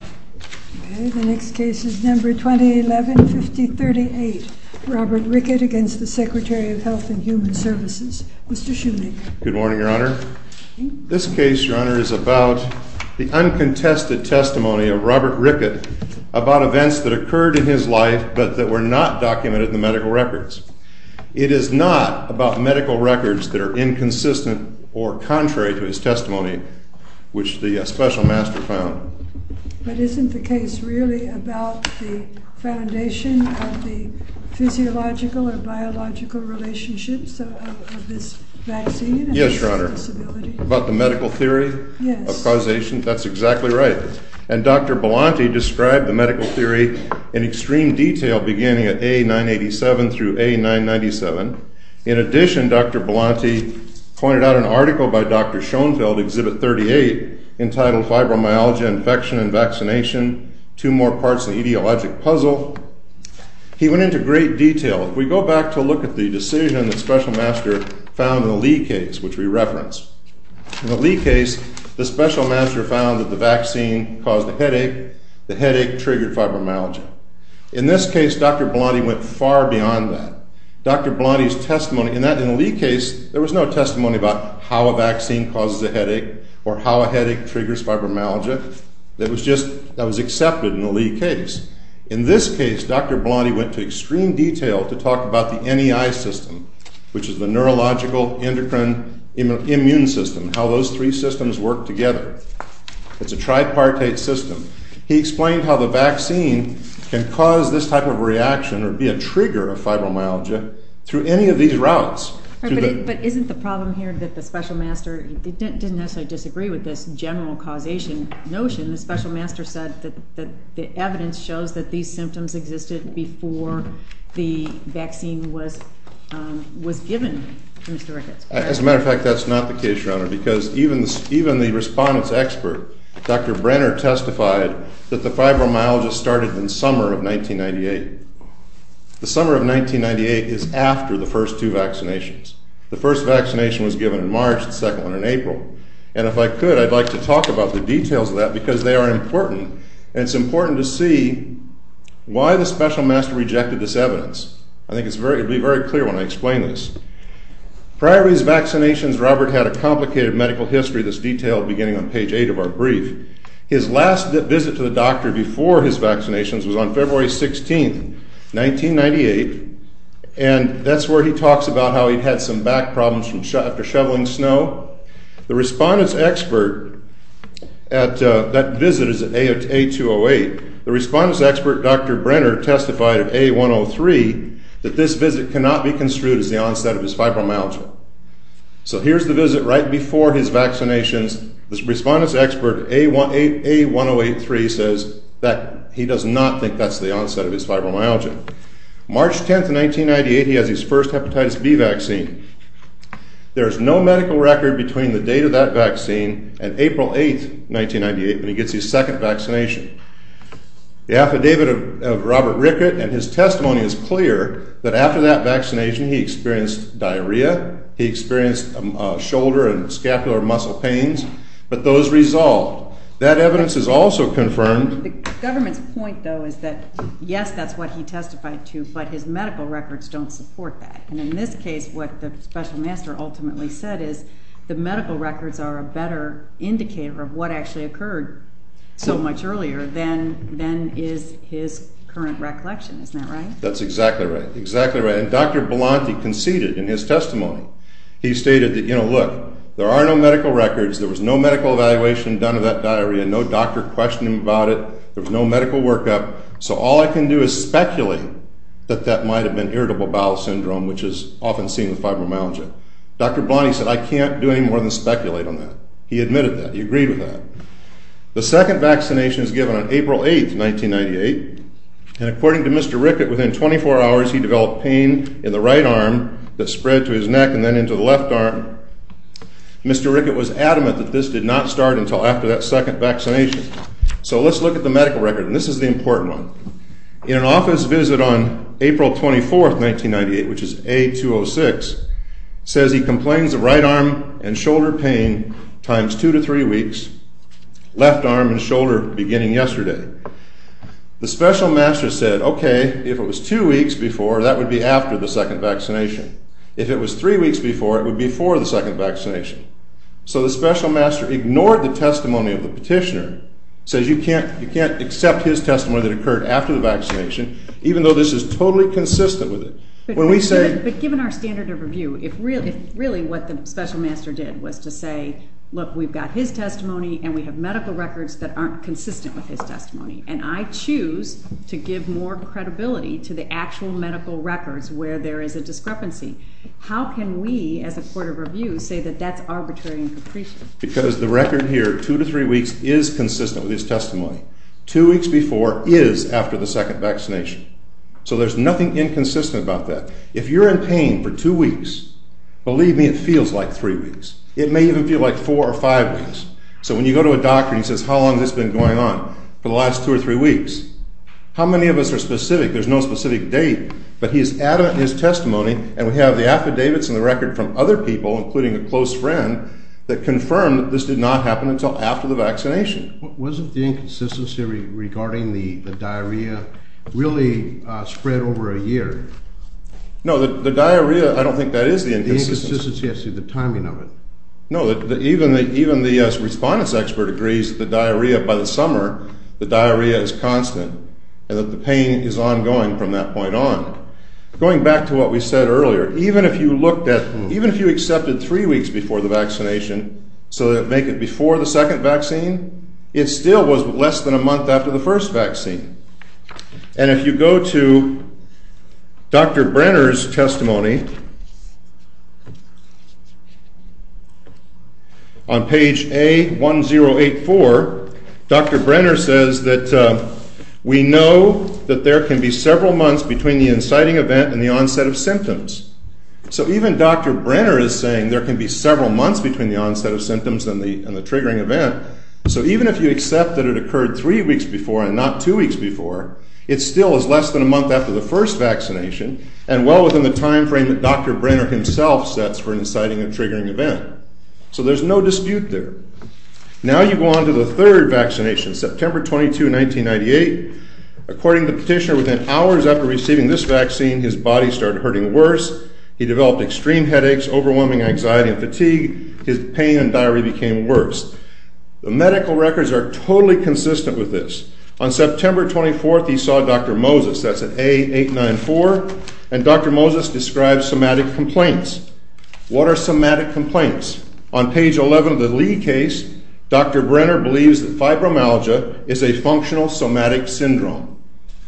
The next case is number 2011-5038, Robert Rickett against the Secretary of Health and Human Services. Mr. Shoenig. Good morning, Your Honor. This case, Your Honor, is about the uncontested testimony of Robert Rickett about events that occurred in his life but that were not documented in the medical records. It is not about medical records that are inconsistent or contrary to his testimony, which the special master found. But isn't the case really about the foundation of the physiological or biological relationships of this vaccine and his disability? Yes, Your Honor. About the medical theory of causation? That's exactly right. And Dr. Belanti described the medical theory in extreme detail beginning at A987 through A997. In addition, Dr. Belanti pointed out an article by Dr. Schoenfeld, Exhibit 38, entitled Fibromyalgia, Infection, and Vaccination, Two More Parts of the Etiologic Puzzle. He went into great detail. If we go back to look at the decision that special master found in the Lee case, which we referenced. In the Lee case, the special master found that the vaccine caused a headache. The headache triggered fibromyalgia. In this case, Dr. Belanti went far beyond that. Dr. Belanti's testimony in the Lee case, there was no testimony about how a vaccine causes a headache or how a headache triggers fibromyalgia. That was accepted in the Lee case. In this case, Dr. Belanti went to extreme detail to talk about the NEI system, which is the Neurological Endocrine Immune System, how those three systems work together. It's a tripartite system. He explained how the vaccine can cause this type of reaction or be a trigger of fibromyalgia through any of these routes. But isn't the problem here that the special master didn't necessarily disagree with this general causation notion. The special master said that the evidence shows that these symptoms existed before the vaccine was given to Mr. Ricketts. As a matter of fact, that's not the case, Your Honor, because even the respondent's expert, Dr. Brenner, testified that the fibromyalgia started in summer of 1998. The summer of 1998 is after the first two vaccinations. The first vaccination was given in March. The second one in April. And if I could, I'd like to talk about the details of that, because they are important. And it's important to see why the special master rejected this evidence. I think it'll be very clear when I explain this. Prior to his vaccinations, Robert had a complicated medical history, this detail beginning on page 8 of our brief. His last visit to the doctor before his vaccinations was on February 16, 1998. And that's where he talks about how he had some back problems after shoveling snow. The respondent's expert at that visit is at A208. The respondent's expert, Dr. Brenner, testified at A103 that this visit cannot be construed as the onset of his fibromyalgia. So here's the visit right before his vaccinations. The respondent's expert, A1083, says that he does not think that's the onset of his fibromyalgia. March 10, 1998, he has his first hepatitis B vaccine. There is no medical record between the date of that vaccine and April 8, 1998, when he gets his second vaccination. The affidavit of Robert Rickett and his testimony is clear that after that vaccination, he experienced diarrhea. He experienced shoulder and scapular muscle pains. But those resolved. That evidence is also confirmed. The government's point, though, is that, yes, that's what he testified to. But his medical records don't support that. And in this case, what the special master ultimately said is the medical records are a better indicator of what actually occurred so much earlier than is his current recollection. Isn't that right? That's exactly right. Exactly right. And Dr. Belanti conceded in his testimony. He stated that, look, there are no medical records. There was no medical evaluation done of that diarrhea. No doctor questioned him about it. There was no medical workup. So all I can do is speculate that that might have been irritable bowel syndrome, which is often seen with fibromyalgia. Dr. Belanti said, I can't do any more than speculate on that. He admitted that. He agreed with that. The second vaccination is given on April 8, 1998. And according to Mr. Rickett, within 24 hours, he developed pain in the right arm that spread to his neck and then into the left arm. Mr. Rickett was adamant that this did not start until after that second vaccination. So let's look at the medical record. And this is the important one. In an office visit on April 24, 1998, which is A-206, says he complains of right arm and shoulder pain times two to three weeks, left arm and shoulder beginning yesterday. The special master said, OK, if it was two weeks before, that would be after the second vaccination. If it was three weeks before, it would be before the second vaccination. So the special master ignored the testimony of the petitioner, says you can't accept his testimony that occurred after the vaccination, even though this is totally consistent with it. But given our standard of review, if really what the special master did was to say, look, we've got his testimony and we have medical records that aren't consistent with his testimony, and I choose to give more credibility to the actual medical records where there is a discrepancy, how can we, as a court of review, say that that's arbitrary and capricious? Because the record here, two to three weeks, is consistent with his testimony. Two weeks before is after the second vaccination. So there's nothing inconsistent about that. If you're in pain for two weeks, believe me, it feels like three weeks. It may even feel like four or five weeks. So when you go to a doctor and he says, how long has this been going on? For the last two or three weeks. How many of us are specific? There's no specific date, but he is adamant in his testimony. And we have the affidavits and the record from other people, including a close friend, that confirm that this did not happen until after the vaccination. Wasn't the inconsistency regarding the diarrhea really spread over a year? No, the diarrhea, I don't think that is the inconsistency. The inconsistency has to do with the timing of it. No, even the respondent's expert agrees that the diarrhea, by the summer, the diarrhea is constant and that the pain is ongoing from that point on. Going back to what we said earlier, even if you accepted three weeks before the vaccination so that make it before the second vaccine, it still was less than a month after the first vaccine. And if you go to Dr. Brenner's testimony, on page A1084, Dr. Brenner says that we know that there can be several months between the inciting event and the onset of symptoms. So even Dr. Brenner is saying there can be several months between the onset of symptoms and the triggering event. So even if you accept that it occurred three weeks before and not two weeks before, it still is less than a month after the first vaccination and well within the time frame that Dr. Brenner himself sets for inciting and triggering event. So there's no dispute there. Now you go on to the third vaccination, September 22, 1998. According to the petitioner, within hours after receiving this vaccine, his body started hurting worse. He developed extreme headaches, overwhelming anxiety and fatigue. His pain and diarrhea became worse. The medical records are totally consistent with this. On September 24, he saw Dr. Moses. That's at A894. And Dr. Moses describes somatic complaints. What are somatic complaints? On page 11 of the Lee case, Dr. Brenner believes that fibromyalgia is a functional somatic syndrome.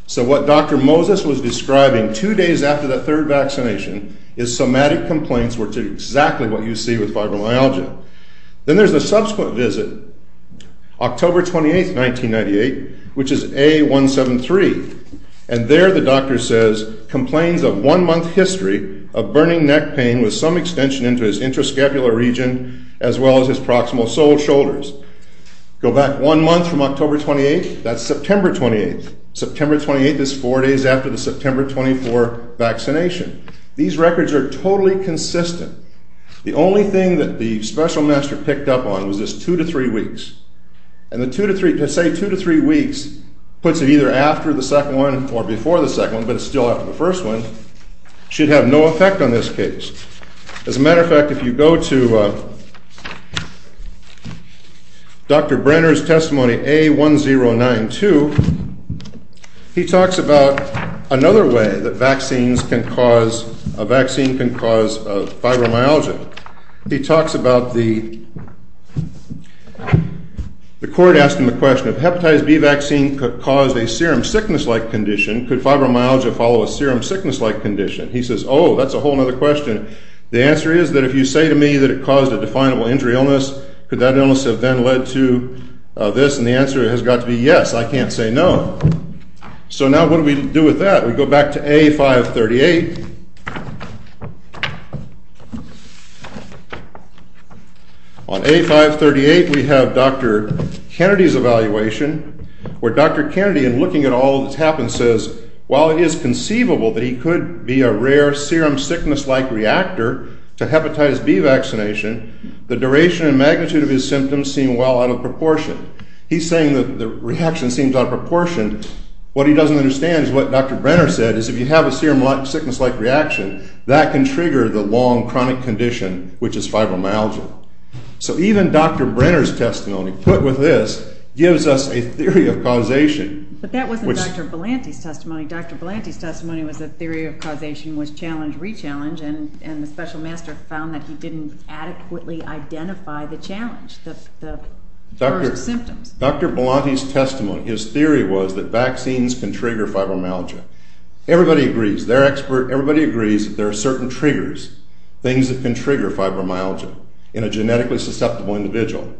So what Dr. Moses was describing two days after the third vaccination is somatic complaints were exactly what you see with fibromyalgia. Then there's a subsequent visit, October 28, 1998, which is A173. And there, the doctor says, complains of one-month history of burning neck pain with some extension into his intrascapular region as well as his proximal sole shoulders. Go back one month from October 28. That's September 28. September 28 is four days after the September 24 vaccination. These records are totally consistent. The only thing that the special master picked up on was this two to three weeks. And the two to three, to say two to three weeks puts it either after the second one or before the second one, but it's still after the first one, should have no effect on this case. As a matter of fact, if you go to Dr. Brenner's testimony A1092, he talks about another way that a vaccine can cause fibromyalgia. He talks about the court asking the question, if hepatitis B vaccine caused a serum sickness-like condition, could fibromyalgia follow a serum sickness-like condition? He says, oh, that's a whole other question. The answer is that if you say to me that it caused a definable injury illness, could that illness have then led to this and the answer has got to be yes. I can't say no. So now what do we do with that? We go back to A538. On A538, we have Dr. Kennedy's evaluation, where Dr. Kennedy, in looking at all that's happened, says, while it is conceivable that he could be a rare serum sickness-like reactor to hepatitis B vaccination, the duration and magnitude of his symptoms seem well out of proportion. He's saying that the reaction seems out of proportion. What he doesn't understand is what Dr. Brenner said, is if you have a serum sickness-like reaction, that can trigger the long chronic condition, which is fibromyalgia. So even Dr. Brenner's testimony, put with this, gives us a theory of causation. But that wasn't Dr. Belanti's testimony. Dr. Belanti's testimony was a theory of causation was challenge, re-challenge. And the special master found that he didn't adequately identify the challenge, the first symptoms. Dr. Belanti's testimony, his theory was that vaccines can trigger fibromyalgia. Everybody agrees. They're expert. Everybody agrees that there are certain triggers, things that can trigger fibromyalgia in a genetically susceptible individual.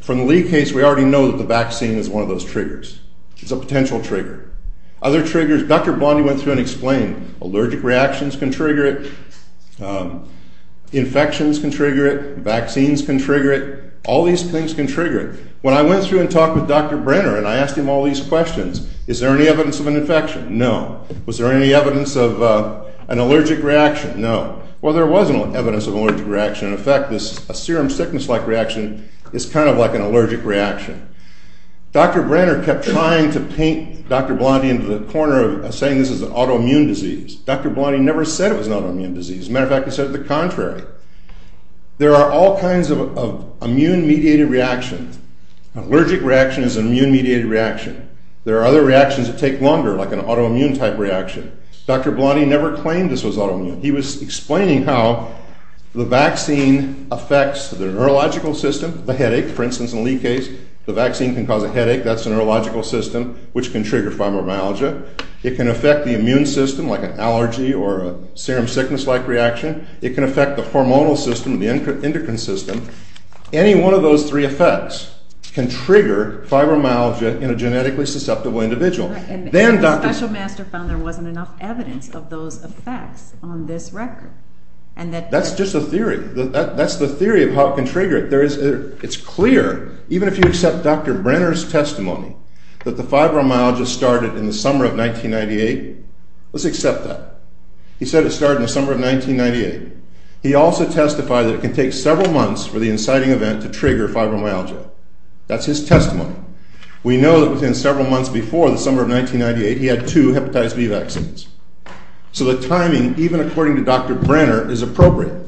From the Lee case, we already know that the vaccine is one of those triggers. It's a potential trigger. Other triggers, Dr. Belanti went through and explained. Allergic reactions can trigger it. Infections can trigger it. Vaccines can trigger it. All these things can trigger it. When I went through and talked with Dr. Brenner and I asked him all these questions, is there any evidence of an infection? No. Was there any evidence of an allergic reaction? No. Well, there was evidence of an allergic reaction. In fact, a serum sickness-like reaction is kind of like an allergic reaction. Dr. Brenner kept trying to paint Dr. Belanti into the corner of saying this is an autoimmune disease. Dr. Belanti never said it was an autoimmune disease. As a matter of fact, he said it the contrary. There are all kinds of immune-mediated reactions. An allergic reaction is an immune-mediated reaction. There are other reactions that take longer, like an autoimmune-type reaction. Dr. Belanti never claimed this was autoimmune. He was explaining how the vaccine affects the neurological system, the headache. For instance, in Lee case, the vaccine can cause a headache. That's the neurological system, which can trigger fibromyalgia. It can affect the immune system, like an allergy or a serum sickness-like reaction. It can affect the hormonal system, the endocrine system. Any one of those three effects can trigger fibromyalgia in a genetically susceptible individual. And the special master found there wasn't enough evidence of those effects on this record. That's just a theory. That's the theory of how it can trigger it. It's clear, even if you accept Dr. Brenner's testimony, that the fibromyalgia started in the summer of 1998. Let's accept that. He said it started in the summer of 1998. He also testified that it can take several months for the inciting event to trigger fibromyalgia. That's his testimony. We know that within several months before the summer of 1998, he had two hepatitis B vaccines. So the timing, even according to Dr. Brenner, is appropriate.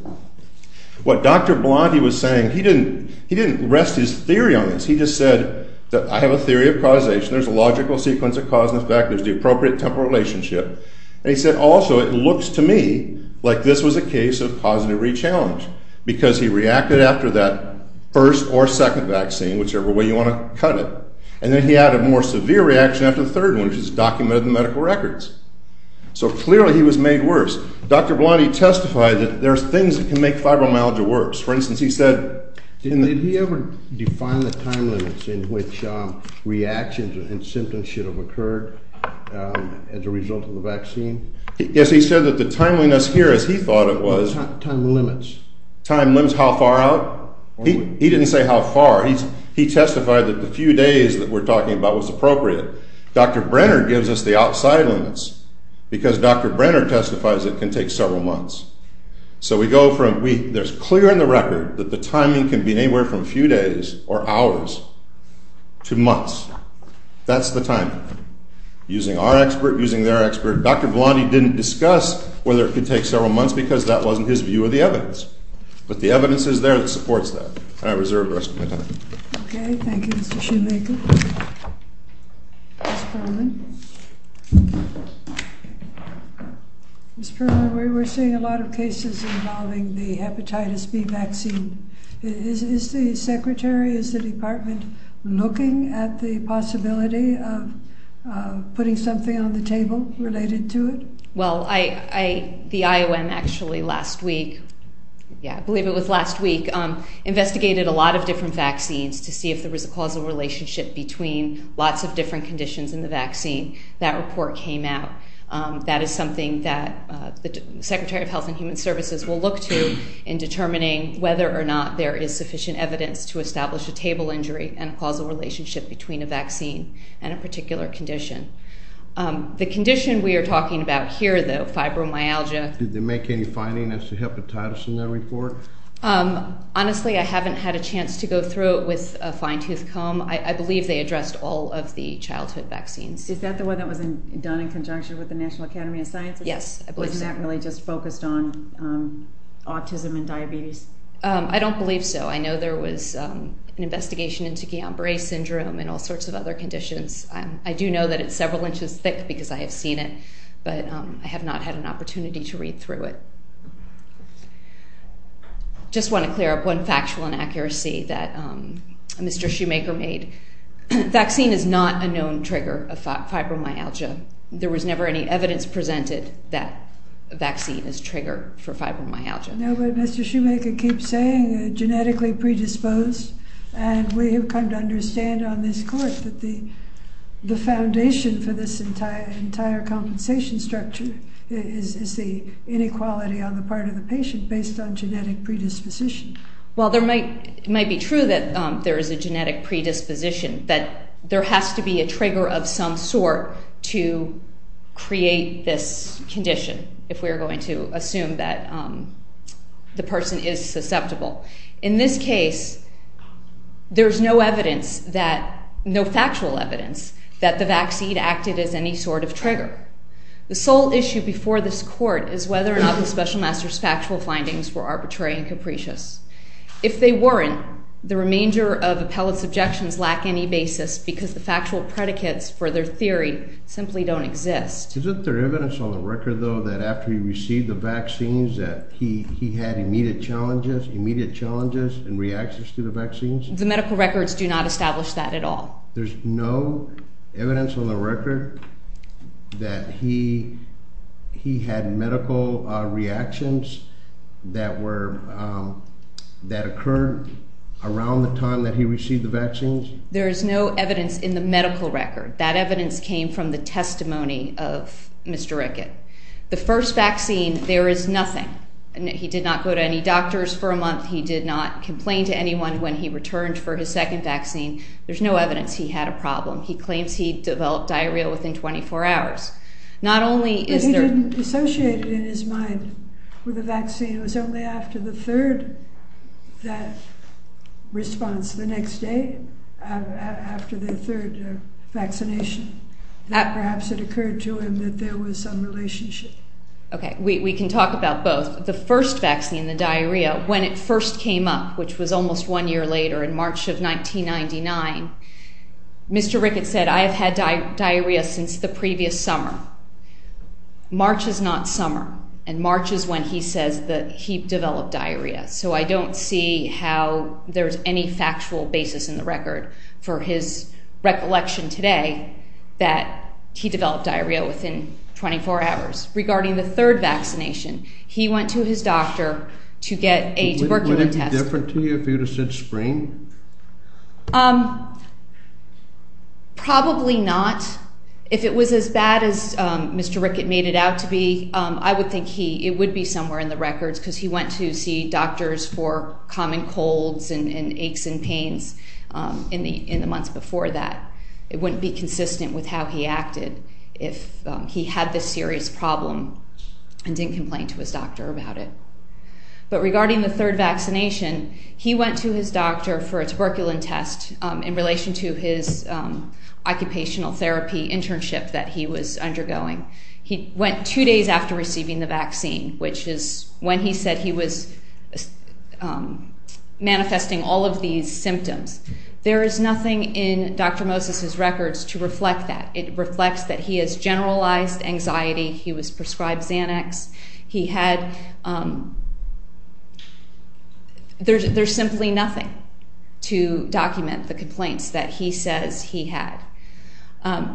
What Dr. Belanti was saying, he didn't rest his theory on this. He just said that I have a theory of causation. There's a logical sequence of cause and effect. There's the appropriate temporal relationship. And he said, also, it looks to me like this was a case of positive re-challenge, because he reacted after that first or second vaccine, whichever way you want to cut it. And then he had a more severe reaction after the third one, which is documented in medical records. So clearly, he was made worse. Dr. Belanti testified that there's things that can make fibromyalgia worse. For instance, he said in the- Did he ever define the time limits in which reactions and symptoms should have occurred as a result of the vaccine? Yes, he said that the timeliness here, as he thought it was- Time limits. Time limits, how far out? He didn't say how far. He testified that the few days that we're talking about was appropriate. Dr. Brenner gives us the outside limits, because Dr. Brenner testifies it can take several months. So we go from, there's clear in the record that the timing can be anywhere from a few days or hours to months. That's the timing, using our expert, using their expert. Dr. Belanti didn't discuss whether it could take several months, because that wasn't his view of the evidence. But the evidence is there that supports that. And I reserve the rest of my time. OK, thank you, Mr. Shumachin. Ms. Perlin. Ms. Perlin, we're seeing a lot of cases involving the hepatitis B vaccine. Is the secretary, is the department looking at the possibility of putting something on the table related to it? Well, the IOM actually last week, yeah, I believe it was last week, investigated a lot of different vaccines to see if there was a causal relationship between lots of different conditions in the vaccine. That report came out. That is something that the Secretary of Health and Human Services will look to in determining whether or not there is sufficient evidence to establish a table injury and a causal relationship between a vaccine and a particular condition. The condition we are talking about here, though, fibromyalgia. Did they make any findings as to hepatitis in that report? Honestly, I haven't had a chance to go through it with a fine tooth comb. I believe they addressed all of the childhood vaccines. Is that the one that was done in conjunction with the National Academy of Sciences? Yes, I believe so. Wasn't that really just focused on autism and diabetes? I don't believe so. I know there was an investigation into Guillain-Barre syndrome and all sorts of other conditions. I do know that it's several inches thick because I have seen it. But I have not had an opportunity to read through it. Just want to clear up one factual inaccuracy that Mr. Shoemaker made. Vaccine is not a known trigger of fibromyalgia. There was never any evidence presented that a vaccine is a trigger for fibromyalgia. Mr. Shoemaker keeps saying genetically predisposed. And we have come to understand on this court that the foundation for this entire compensation structure is the inequality on the part of the patient based on genetic predisposition. Well, it might be true that there is a genetic predisposition, that there has to be a trigger of some sort to create this condition, if we are going to assume that the person is susceptible. In this case, there is no evidence, no factual evidence, that the vaccine acted as any sort of trigger. The sole issue before this court is whether or not the special master's factual findings were arbitrary and capricious. If they weren't, the remainder of appellate's objections lack any basis because the factual predicates for their theory simply don't exist. Isn't there evidence on the record, though, that after he received the vaccines, that he had immediate challenges and reactions to the vaccines? The medical records do not establish that at all. There's no evidence on the record that he had medical reactions that occurred around the time that he received the vaccines? There is no evidence in the medical record. That evidence came from the testimony of Mr. Rickett. The first vaccine, there is nothing. He did not go to any doctors for a month. He did not complain to anyone when he returned for his second vaccine. There's no evidence he had a problem. He claims he developed diarrhea within 24 hours. Not only is there- But he didn't associate it, in his mind, with a vaccine. It was only after the third, that response, the next day, after the third vaccination, that perhaps it occurred to him that there was some relationship. OK, we can talk about both. The first vaccine, the diarrhea, when it first came up, which was almost one year later, in March of 1999, Mr. Rickett said, I have had diarrhea since the previous summer. March is not summer. And March is when he says that he developed diarrhea. So I don't see how there's any factual basis in the record for his recollection today that he developed diarrhea within 24 hours. Regarding the third vaccination, he went to his doctor to get a tuberculin test. Would it be different to you if he would have said spring? Probably not. If it was as bad as Mr. Rickett made it out to be, I would think it would be somewhere in the records, because he went to see doctors for common colds and aches and pains in the months before that. It wouldn't be consistent with how he acted if he had this serious problem and didn't complain to his doctor about it. But regarding the third vaccination, he went to his doctor for a tuberculin test in relation to his occupational therapy internship that he was undergoing. He went two days after receiving the vaccine, which is when he said he was manifesting all of these symptoms. There is nothing in Dr. Moses's records to reflect that. It reflects that he has generalized anxiety. He was prescribed Xanax. He had, there's simply nothing to document the complaints that he says he had.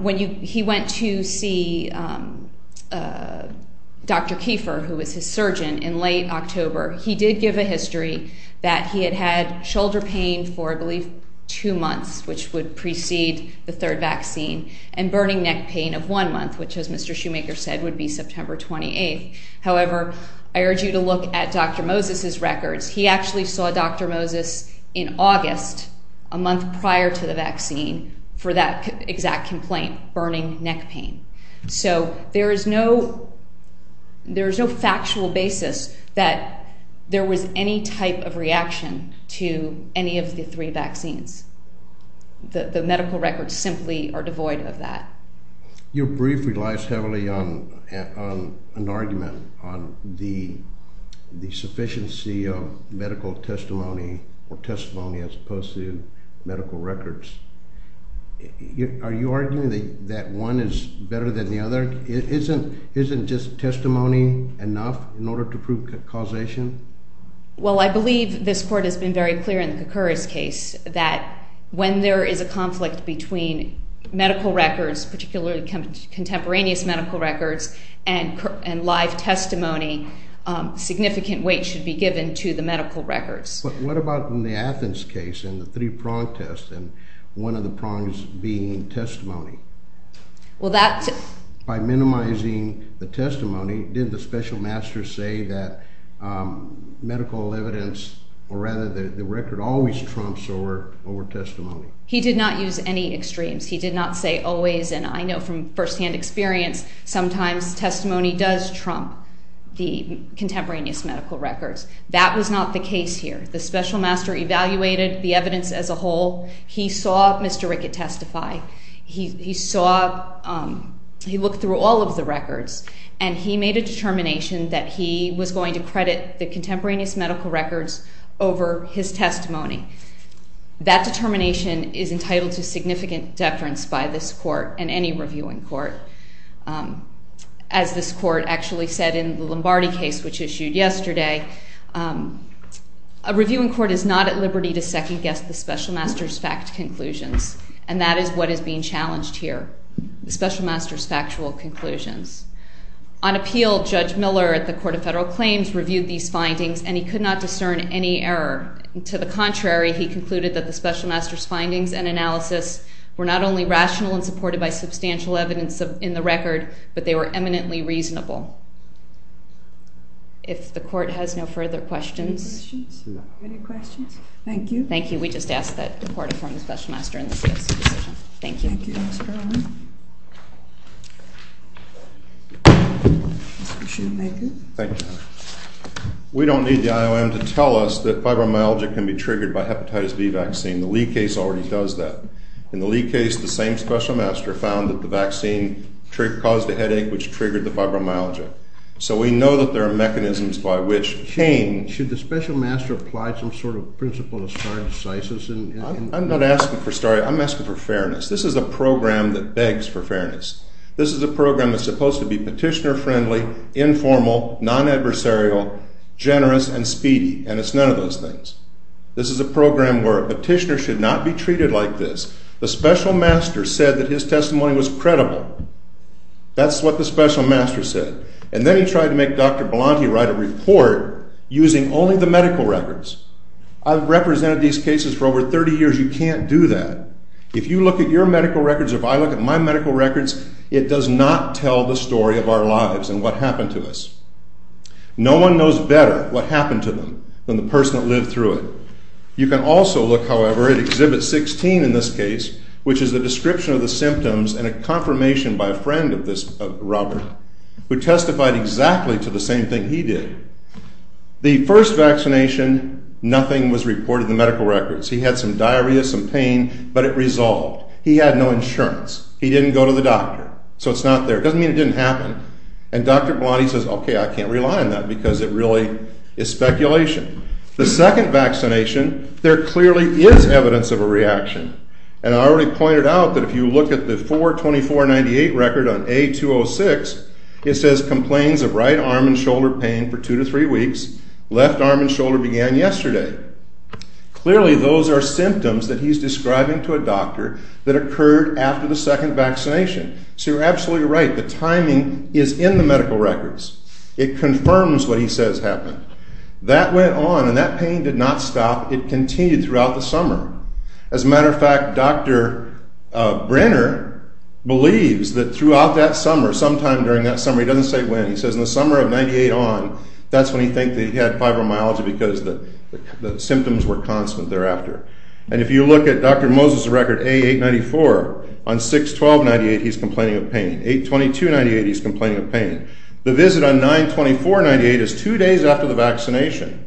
When he went to see Dr. Kiefer, who was his surgeon, in late October, he did give a history that he had had shoulder pain for, I believe, two months, which would precede the third vaccine, and burning neck pain of one month, which, as Mr. Shoemaker said, would be September 28. However, I urge you to look at Dr. Moses's records. He actually saw Dr. Moses in August, a month prior to the vaccine, for that exact complaint, burning neck pain. So there is no factual basis that there was any type of reaction to any of the three vaccines. The medical records simply are devoid of that. Your brief relies heavily on an argument on the sufficiency of medical testimony, or testimony, as opposed to medical records. Are you arguing that one is better than the other? Isn't just testimony enough in order to prove causation? Well, I believe this court has been very clear in the Koukouris case that when there is a conflict between medical records, particularly contemporaneous medical records, and live testimony, significant weight should be given to the medical records. What about in the Athens case, in the three-pronged test, and one of the prongs being testimony? Well, that's it. By minimizing the testimony, did the special master say that medical evidence, or rather the record, always trumps over testimony? He did not use any extremes. He did not say always. And I know from firsthand experience, sometimes testimony does trump the contemporaneous medical records. That was not the case here. The special master evaluated the evidence as a whole. He saw Mr. Rickett testify. He looked through all of the records, and he made a determination that he was going to credit the contemporaneous medical records over his testimony. That determination is entitled to significant deference by this court, and any reviewing court. As this court actually said in the Lombardi case, which a reviewing court is not at liberty to second-guess the special master's fact conclusions. And that is what is being challenged here, the special master's factual conclusions. On appeal, Judge Miller at the Court of Federal Claims reviewed these findings, and he could not discern any error. To the contrary, he concluded that the special master's findings and analysis were not only rational and supported by substantial evidence in the record, but they were eminently reasonable. If the court has no further questions. Any questions? No. Any questions? Thank you. Thank you. We just asked that the court inform the special master in this case. Thank you. Thank you, Ms. Brown. You should make it. Thank you. We don't need the IOM to tell us that fibromyalgia can be triggered by hepatitis B vaccine. The Lee case already does that. In the Lee case, the same special master found that the vaccine caused a headache, which triggered the fibromyalgia. So we know that there are mechanisms by which pain. Should the special master apply some sort of principle of stare decisis? I'm not asking for stare. I'm asking for fairness. This is a program that begs for fairness. This is a program that's supposed to be petitioner friendly, informal, non-adversarial, generous, and speedy. And it's none of those things. This is a program where a petitioner should not be treated like this. The special master said that his testimony was credible. That's what the special master said. And then he tried to make Dr. Bellanti write a report using only the medical records. I've represented these cases for over 30 years. You can't do that. If you look at your medical records, or if I look at my medical records, it does not tell the story of our lives and what happened to us. No one knows better what happened to them than the person that lived through it. You can also look, however, at exhibit 16 in this case, which is the description of the symptoms and a confirmation by a friend of this, Robert, who testified exactly to the same thing he did. The first vaccination, nothing was reported in the medical records. He had some diarrhea, some pain, but it resolved. He had no insurance. He didn't go to the doctor, so it's not there. Doesn't mean it didn't happen. And Dr. Bellanti says, OK, I can't rely on that, because it really is speculation. The second vaccination, there clearly is evidence of a reaction. And I already pointed out that if you look at the 4-24-98 record on A-206, it says complaints of right arm and shoulder pain for two to three weeks. Left arm and shoulder began yesterday. Clearly, those are symptoms that he's describing to a doctor that occurred after the second vaccination. So you're absolutely right. The timing is in the medical records. It confirms what he says happened. That went on, and that pain did not stop. It continued throughout the summer. As a matter of fact, Dr. Brenner believes that throughout that summer, sometime during that summer, he doesn't say when. He says in the summer of 98 on, that's when he think that he had fibromyalgia because the symptoms were constant thereafter. And if you look at Dr. Moses' record, A-894, on 6-12-98, he's complaining of pain. 8-22-98, he's complaining of pain. The visit on 9-24-98 is two days after the vaccination.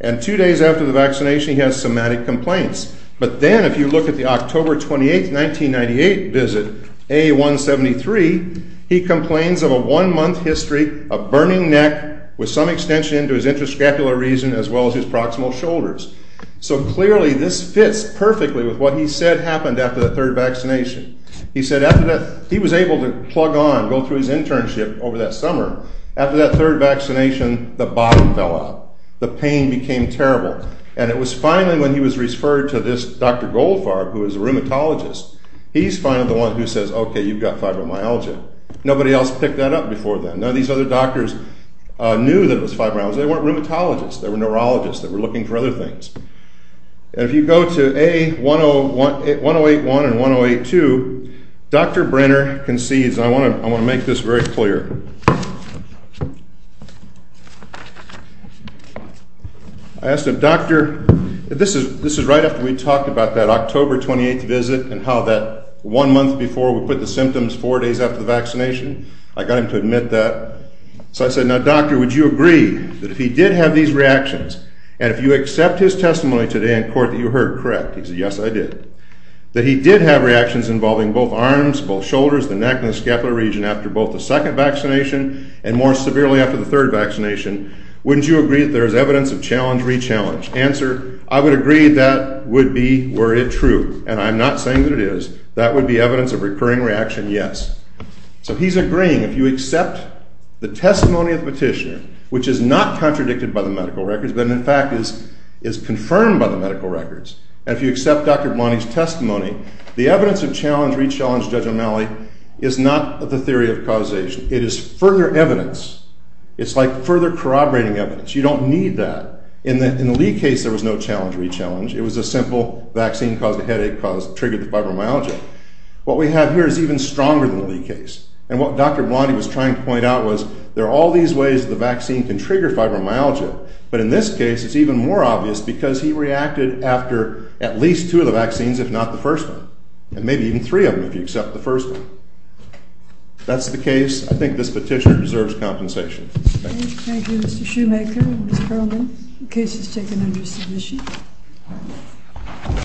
And two days after the vaccination, he has somatic complaints. But then if you look at the October 28, 1998 visit, A-173, he complains of a one-month history of burning neck with some extension into his intrascapular region as well as his proximal shoulders. So clearly, this fits perfectly with what he said happened after the third vaccination. He said after that, he was able to plug on, go through his internship over that summer. After that third vaccination, the bottom fell out. The pain became terrible. And it was finally when he was referred to this Dr. Goldfarb, who is a rheumatologist. He's finally the one who says, OK, you've got fibromyalgia. Nobody else picked that up before then. None of these other doctors knew that it was fibromyalgia. They weren't rheumatologists. They were neurologists that were looking for other things. And if you go to A-108-1 and A-108-2, Dr. Brenner concedes. I want to make this very clear. I asked him, Doctor, this is right after we talked about that October 28 visit and how that one month before we put the symptoms four days after the vaccination. I got him to admit that. So I said, now, Doctor, would you agree that if he did have these reactions, and if you accept his testimony today in court that you heard correct, he said, yes, I did, that he did have reactions involving both arms, both shoulders, the neck, and the scapular region after both the second vaccination and the third. And more severely after the third vaccination, wouldn't you agree that there is evidence of challenge, re-challenge? Answer, I would agree that would be were it true. And I'm not saying that it is. That would be evidence of recurring reaction, yes. So he's agreeing. If you accept the testimony of the petitioner, which is not contradicted by the medical records, but in fact is confirmed by the medical records, and if you accept Dr. Blani's testimony, the evidence of challenge, re-challenge, Judge O'Malley, is not the theory of causation. It is further evidence. It's like further corroborating evidence. You don't need that. In the Lee case, there was no challenge, re-challenge. It was a simple vaccine caused a headache, triggered the fibromyalgia. What we have here is even stronger than the Lee case. And what Dr. Blani was trying to point out was there are all these ways the vaccine can trigger fibromyalgia. But in this case, it's even more obvious because he reacted after at least two of the vaccines, if not the first one, and maybe even three of them if you accept the first one. That's the case. I think this petition deserves compensation. Thank you. Thank you, Mr. Shoemaker and Ms. Perlman. The case is taken under submission.